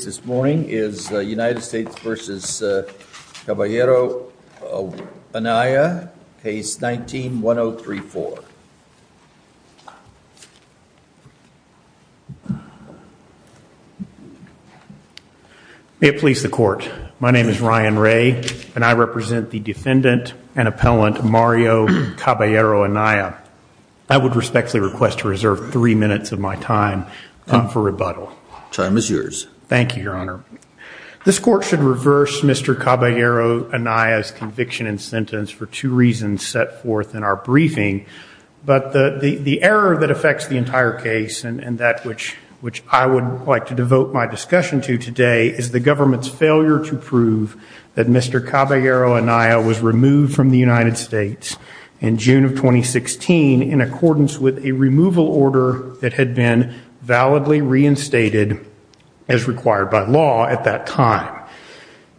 United States v. Caballero-Anaya, Case 19-1034. May it please the Court, my name is Ryan Ray and I represent the defendant and appellant Mario Caballero-Anaya. I would respectfully request to reserve three minutes of my time for rebuttal. Time is yours. Thank you, Your Honor. This Court should reverse Mr. Caballero-Anaya's conviction and sentence for two reasons set forth in our briefing. But the error that affects the entire case and that which I would like to devote my discussion to today is the government's failure to prove that Mr. Caballero-Anaya was removed from the United States in June of 2016 in accordance with a removal order that had been validly reinstated as required by law at that time.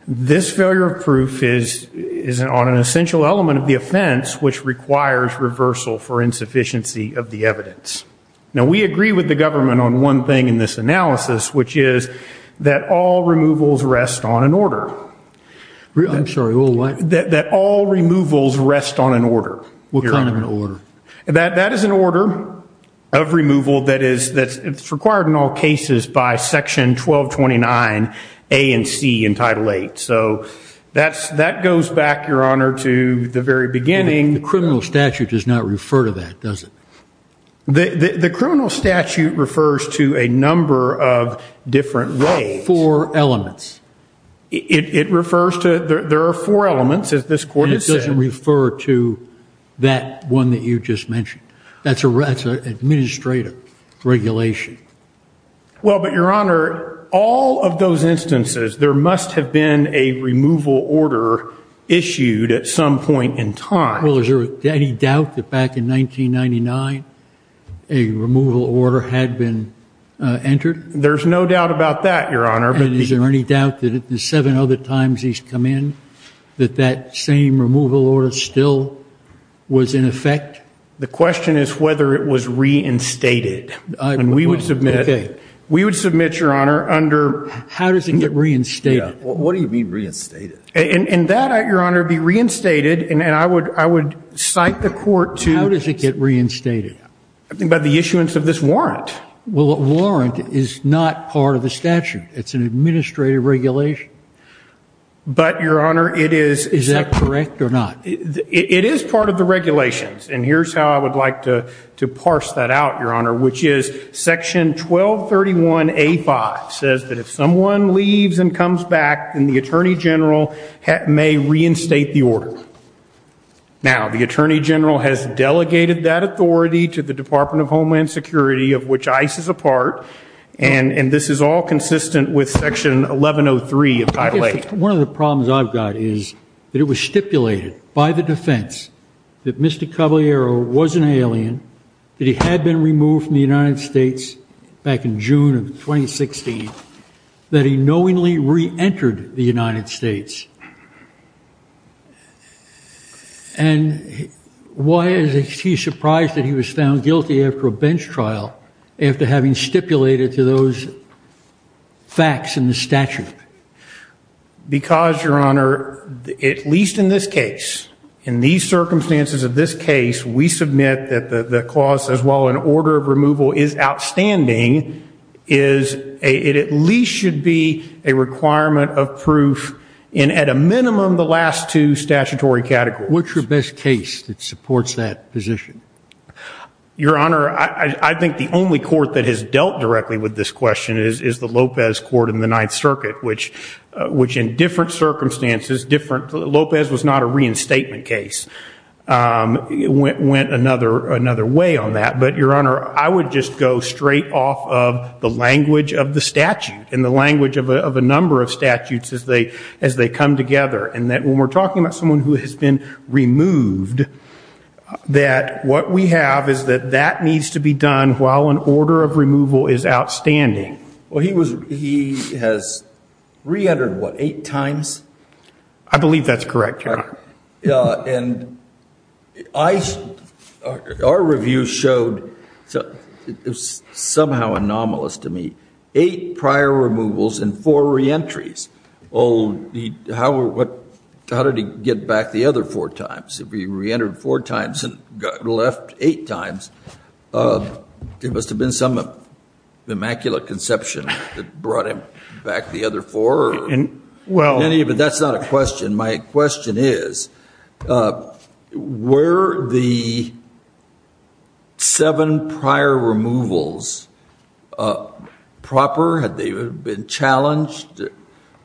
This failure of proof is on an essential element of the offense, which requires reversal for insufficiency of the evidence. Now, we agree with the government on one thing in this analysis, which is that all removals rest on an order. I'm sorry, what? That all removals rest on an order. What kind of an order? That is an order of removal that is required in all cases by Section 1229 A and C in Title VIII. So that goes back, Your Honor, to the very beginning. The criminal statute does not refer to that, does it? The criminal statute refers to a number of different roles. Four elements. It refers to – there are four elements, as this Court has said. It doesn't refer to that one that you just mentioned. That's an administrative regulation. Well, but, Your Honor, all of those instances, there must have been a removal order issued at some point in time. Well, is there any doubt that back in 1999 a removal order had been entered? There's no doubt about that, Your Honor. And is there any doubt that at the seven other times he's come in that that same removal order still was in effect? The question is whether it was reinstated. And we would submit – we would submit, Your Honor, under – How does it get reinstated? What do you mean reinstated? And that, Your Honor, be reinstated, and I would cite the Court to – How does it get reinstated? By the issuance of this warrant. Well, a warrant is not part of the statute. It's an administrative regulation. But, Your Honor, it is – Is that correct or not? It is part of the regulations, and here's how I would like to parse that out, Your Honor, which is Section 1231A5 says that if someone leaves and comes back, then the Attorney General may reinstate the order. Now, the Attorney General has delegated that authority to the Department of Homeland Security, of which ICE is a part, and this is all consistent with Section 1103 of Title 8. One of the problems I've got is that it was stipulated by the defense that Mr. Caballero was an alien, that he had been removed from the United States back in June of 2016, that he knowingly reentered the United States. And why is he surprised that he was found guilty after a bench trial, after having stipulated to those facts in the statute? Because, Your Honor, at least in this case, in these circumstances of this case, we submit that the clause as well in order of removal is outstanding, it at least should be a requirement of proof in at a minimum the last two statutory categories. What's your best case that supports that position? Your Honor, I think the only court that has dealt directly with this question is the Lopez Court in the Ninth Circuit, which in different circumstances, Lopez was not a reinstatement case, went another way on that. But, Your Honor, I would just go straight off of the language of the statute, and the language of a number of statutes as they come together, and that when we're talking about someone who has been removed, that what we have is that that needs to be done while an order of removal is outstanding. Well, he has reentered what, eight times? I believe that's correct, Your Honor. And our review showed, somehow anomalous to me, eight prior removals and four reentries. How did he get back the other four times? He reentered four times and left eight times. There must have been some immaculate conception that brought him back the other four. That's not a question. My question is, were the seven prior removals proper? Had they been challenged?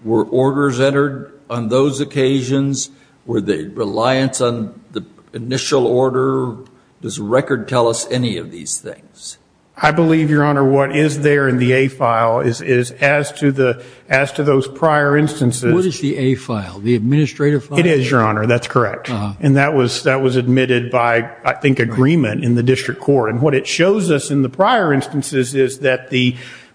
Were orders entered on those occasions? Were they reliant on the initial order? Does the record tell us any of these things? I believe, Your Honor, what is there in the A file is as to those prior instances. What is the A file? The administrative file? It is, Your Honor. That's correct. And that was admitted by, I think, agreement in the district court. And what it shows us in the prior instances is that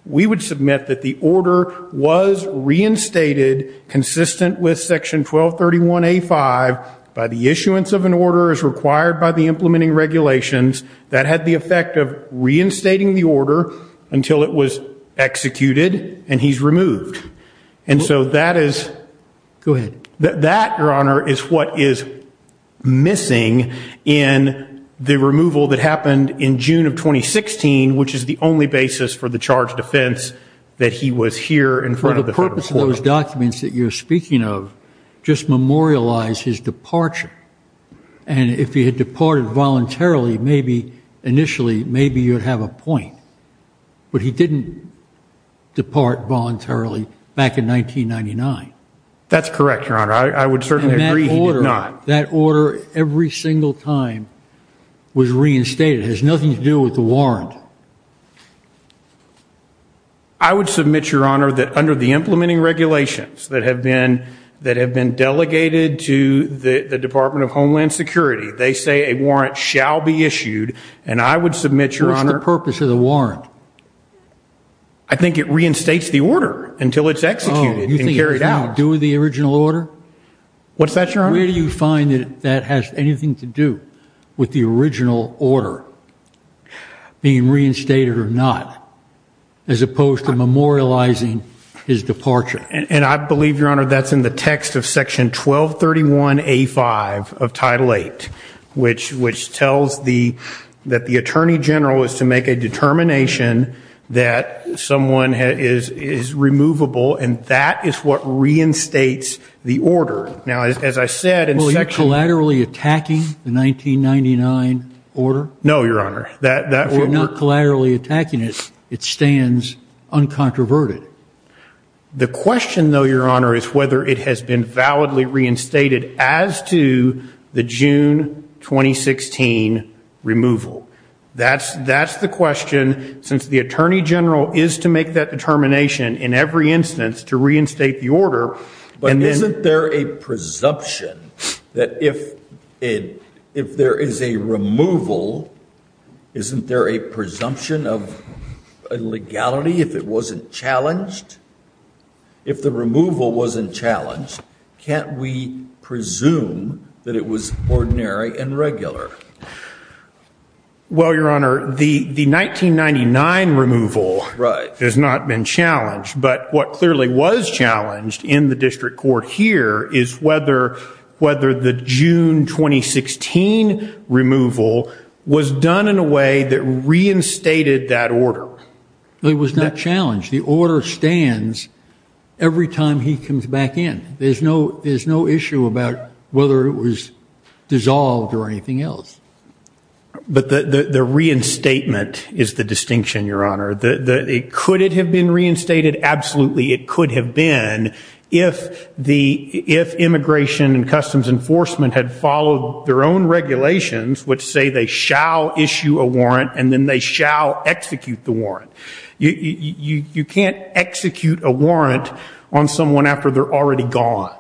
we would submit that the order was reinstated, consistent with Section 1231A5, by the issuance of an order as required by the implementing regulations, that had the effect of reinstating the order until it was executed and he's removed. And so that is... Go ahead. That, Your Honor, is what is missing in the removal that happened in June of 2016, which is the only basis for the charged offense that he was here in front of the federal court. For the purpose of those documents that you're speaking of, just memorialize his departure. And if he had departed voluntarily, maybe initially, maybe you'd have a point. But he didn't depart voluntarily back in 1999. That's correct, Your Honor. I would certainly agree he did not. That order, every single time, was reinstated. It has nothing to do with the warrant. I would submit, Your Honor, that under the implementing regulations that have been delegated to the Department of Homeland Security, they say a warrant shall be issued, and I would submit, Your Honor... What's the purpose of the warrant? I think it reinstates the order until it's executed and carried out. Oh, you think it has anything to do with the original order? What's that, Your Honor? Where do you find that that has anything to do with the original order being reinstated or not, as opposed to memorializing his departure? And I believe, Your Honor, that's in the text of Section 1231A5 of Title VIII, which tells that the Attorney General is to make a determination that someone is removable, and that is what reinstates the order. Now, as I said in Section... Well, are you collaterally attacking the 1999 order? No, Your Honor. If you're not collaterally attacking it, it stands uncontroverted. The question, though, Your Honor, is whether it has been validly reinstated as to the June 2016 removal. That's the question, since the Attorney General is to make that determination in every instance to reinstate the order. But isn't there a presumption that if there is a removal, isn't there a presumption of illegality if it wasn't challenged? If the removal wasn't challenged, can't we presume that it was ordinary and regular? Well, Your Honor, the 1999 removal has not been challenged. But what clearly was challenged in the district court here is whether the June 2016 removal was done in a way that reinstated that order. It was not challenged. The order stands every time he comes back in. There's no issue about whether it was dissolved or anything else. But the reinstatement is the distinction, Your Honor. Could it have been reinstated? Absolutely, it could have been if Immigration and Customs Enforcement had followed their own regulations, which say they shall issue a warrant and then they shall execute the warrant. You can't execute a warrant on someone after they're already gone.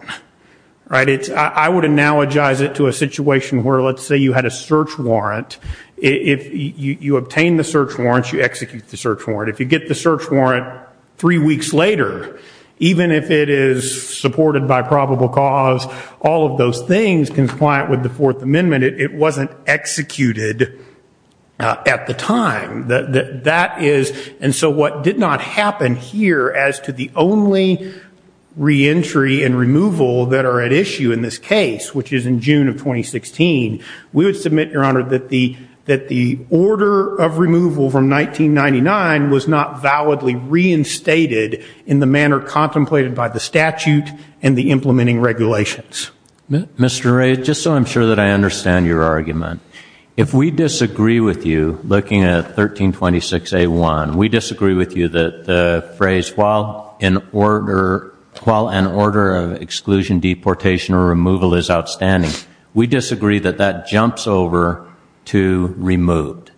I would analogize it to a situation where, let's say you had a search warrant. If you obtain the search warrant, you execute the search warrant. If you get the search warrant three weeks later, even if it is supported by probable cause, all of those things compliant with the Fourth Amendment, it wasn't executed at the time. And so what did not happen here as to the only reentry and removal that are at issue in this case, which is in June of 2016, we would submit, Your Honor, that the order of removal from 1999 was not validly reinstated in the manner contemplated by the statute and the implementing regulations. Mr. Ray, just so I'm sure that I understand your argument, if we disagree with you looking at 1326A1, we disagree with you that the phrase while an order of exclusion, deportation, or removal is outstanding, we disagree that that jumps over to removed.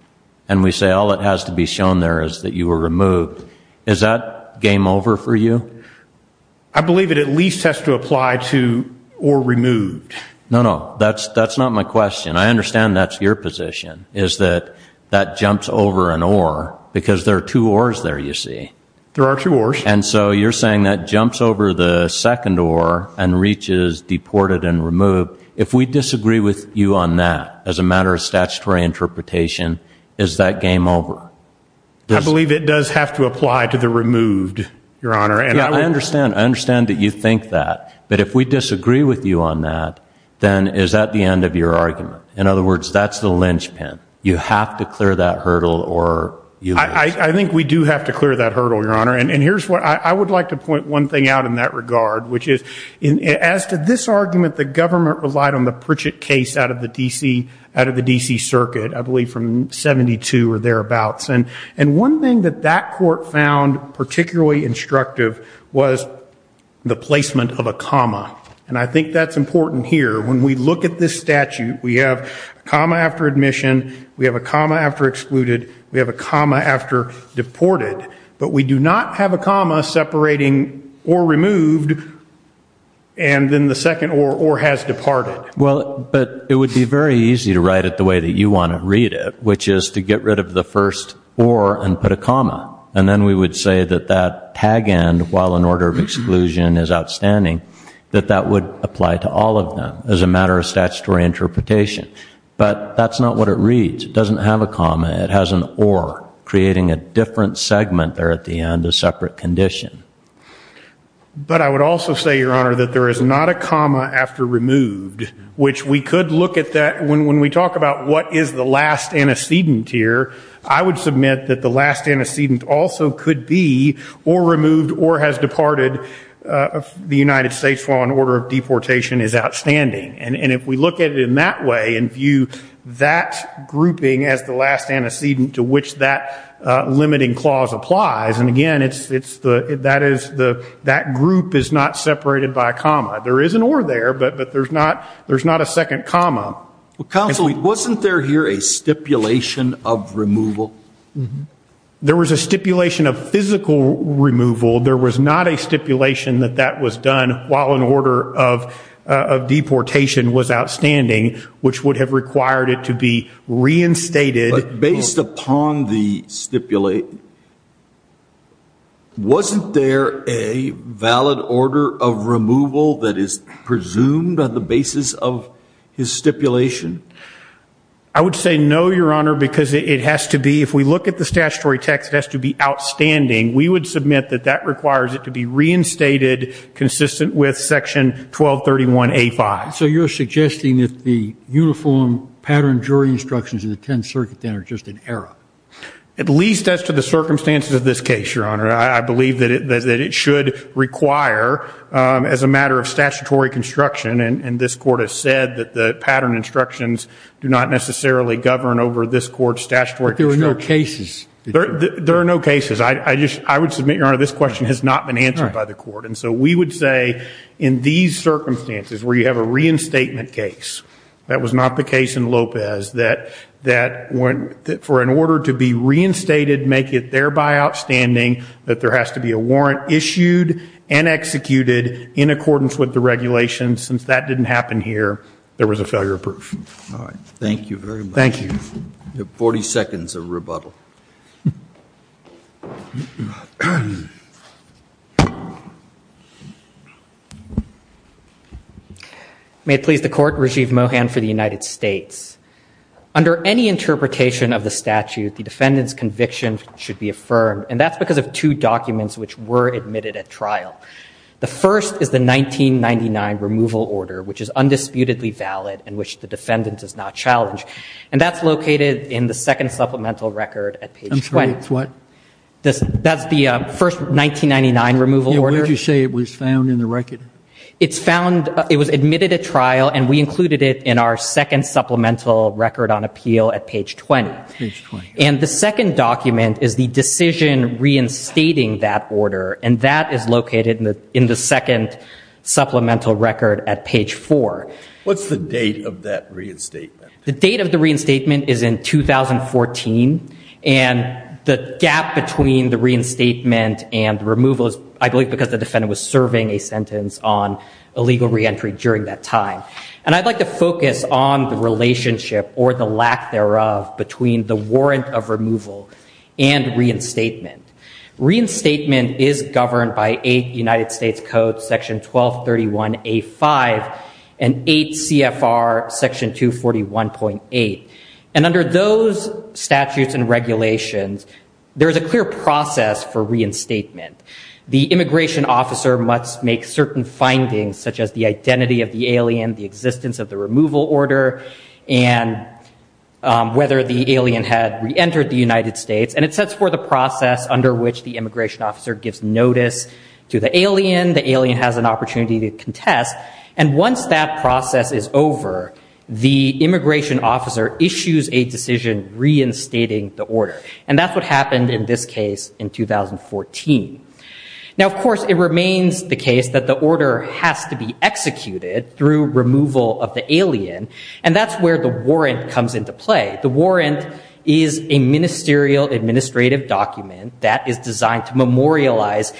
And we say all that has to be shown there is that you were removed. Is that game over for you? I believe it at least has to apply to or removed. No, no, that's not my question. I understand that's your position, is that that jumps over an or, because there are two ors there, you see. There are two ors. And so you're saying that jumps over the second or and reaches deported and removed. If we disagree with you on that as a matter of statutory interpretation, is that game over? I believe it does have to apply to the removed, Your Honor. I understand that you think that. But if we disagree with you on that, then is that the end of your argument? In other words, that's the linchpin. You have to clear that hurdle or you lose. I think we do have to clear that hurdle, Your Honor. And I would like to point one thing out in that regard, which is as to this argument, the government relied on the Pritchett case out of the D.C. Circuit, I believe from 72 or thereabouts. And one thing that that court found particularly instructive was the placement of a comma. And I think that's important here. When we look at this statute, we have a comma after admission, we have a comma after excluded, we have a comma after deported. But we do not have a comma separating or removed and then the second or has departed. Well, but it would be very easy to write it the way that you want to read it, which is to get rid of the first or and put a comma. And then we would say that that tag end, while in order of exclusion is outstanding, that that would apply to all of them as a matter of statutory interpretation. But that's not what it reads. It doesn't have a comma. It has an or, creating a different segment there at the end, a separate condition. But I would also say, Your Honor, that there is not a comma after removed, which we could look at that. When we talk about what is the last antecedent here, I would submit that the last antecedent also could be or removed or has departed. The United States law and order of deportation is outstanding. And if we look at it in that way and view that grouping as the last antecedent to which that limiting clause applies. And, again, that group is not separated by a comma. There is an or there, but there's not a second comma. Counsel, wasn't there here a stipulation of removal? There was a stipulation of physical removal. There was not a stipulation that that was done while in order of deportation was outstanding, which would have required it to be reinstated. But based upon the stipulation, wasn't there a valid order of removal that is presumed on the basis of his stipulation? I would say no, Your Honor, because it has to be, if we look at the statutory text, it has to be outstanding. We would submit that that requires it to be reinstated consistent with Section 1231A5. So you're suggesting that the uniform pattern jury instructions in the Tenth Circuit then are just an error? At least as to the circumstances of this case, Your Honor. I believe that it should require, as a matter of statutory construction, and this Court has said that the pattern instructions do not necessarily govern over this Court's statutory construction. But there were no cases. There are no cases. I would submit, Your Honor, this question has not been answered by the Court. And so we would say in these circumstances where you have a reinstatement case, that was not the case in Lopez, that for an order to be reinstated make it thereby outstanding that there has to be a warrant issued and executed in accordance with the regulations. Since that didn't happen here, there was a failure of proof. All right. Thank you very much. Thank you. You have 40 seconds of rebuttal. May it please the Court, Rajiv Mohan for the United States. Under any interpretation of the statute, the defendant's conviction should be affirmed, and that's because of two documents which were admitted at trial. The first is the 1999 removal order, which is undisputedly valid and which the defendant does not challenge. And that's located in the second supplemental record at page 20. I'm sorry, it's what? That's the first 1999 removal order. Where did you say it was found in the record? It was admitted at trial, and we included it in our second supplemental record on appeal at page 20. Page 20. And the second document is the decision reinstating that order, and that is located in the second supplemental record at page 4. What's the date of that reinstatement? The date of the reinstatement is in 2014, and the gap between the reinstatement and the removal is, I believe, because the defendant was serving a sentence on illegal reentry during that time. And I'd like to focus on the relationship or the lack thereof between the warrant of removal and reinstatement. Reinstatement is governed by 8 United States Code Section 1231A5 and 8 CFR Section 241.8. And under those statutes and regulations, there is a clear process for reinstatement. The immigration officer must make certain findings, such as the identity of the alien, the existence of the removal order, and whether the alien had reentered the United States. And it sets forth a process under which the immigration officer gives notice to the alien. The alien has an opportunity to contest. And once that process is over, the immigration officer issues a decision reinstating the order. And that's what happened in this case in 2014. Now, of course, it remains the case that the order has to be executed through removal of the alien, and that's where the warrant comes into play. The warrant is a ministerial administrative document that is designed to memorialize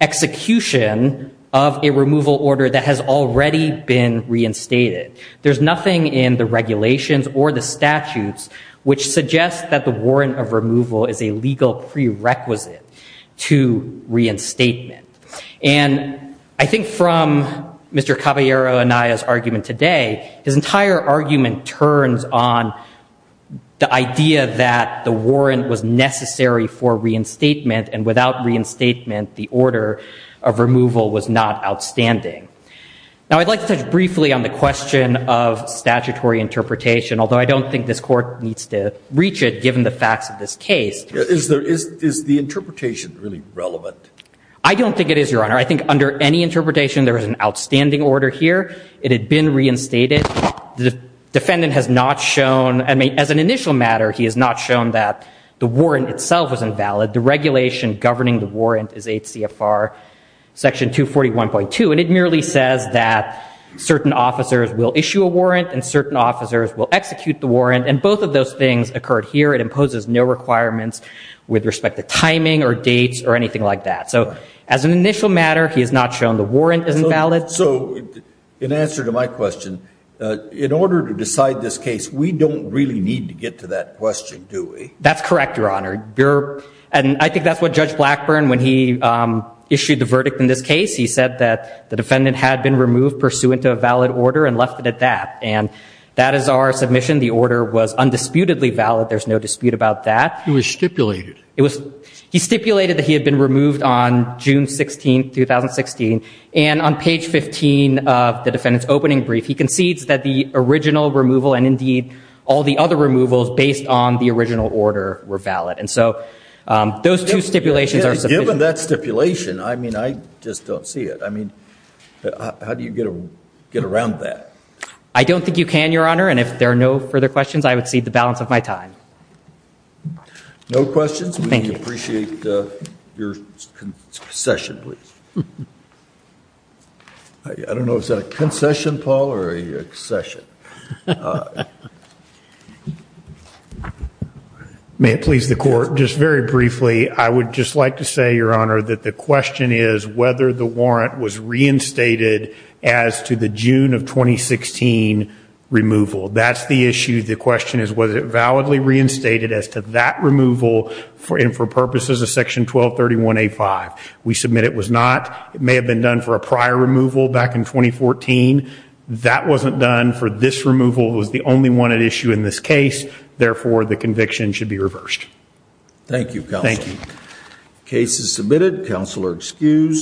execution of a removal order that has already been reinstated. There's nothing in the regulations or the statutes which suggests that the warrant of removal is a legal prerequisite to reinstatement. And I think from Mr. Caballero Anaya's argument today, his entire argument turns on the idea that the warrant was necessary for reinstatement, and without reinstatement, the order of removal was not outstanding. Now, I'd like to touch briefly on the question of statutory interpretation, although I don't think this court needs to reach it, given the facts of this case. Is the interpretation really relevant? I don't think it is, Your Honor. I think under any interpretation, there is an outstanding order here. It had been reinstated. The defendant has not shown, I mean, as an initial matter, he has not shown that the warrant itself was invalid. The regulation governing the warrant is 8 CFR section 241.2, and it merely says that certain officers will issue a warrant and certain officers will execute the warrant, and both of those things occurred here. It imposes no requirements with respect to timing or dates or anything like that. So as an initial matter, he has not shown the warrant is invalid. So in answer to my question, in order to decide this case, we don't really need to get to that question, do we? That's correct, Your Honor. And I think that's what Judge Blackburn, when he issued the verdict in this case, he said that the defendant had been removed pursuant to a valid order and left it at that. And that is our submission. The order was undisputedly valid. There's no dispute about that. It was stipulated. It was. He stipulated that he had been removed on June 16, 2016. And on page 15 of the defendant's opening brief, he concedes that the original removal and, indeed, all the other removals based on the original order were valid. And so those two stipulations are sufficient. Given that stipulation, I mean, I just don't see it. I mean, how do you get around that? I don't think you can, Your Honor. And if there are no further questions, I would cede the balance of my time. No questions? Thank you. We appreciate your concession, please. I don't know, is that a concession, Paul, or a concession? May it please the Court, just very briefly, I would just like to say, Your Honor, that the question is whether the warrant was reinstated as to the June of 2016 removal. That's the issue. The question is whether it validly reinstated as to that removal and for purposes of Section 1231A5. We submit it was not. It may have been done for a prior removal back in 2014. That wasn't done for this removal. It was the only one at issue in this case. Thank you, counsel. Thank you. This is submitted. Counsel are excused.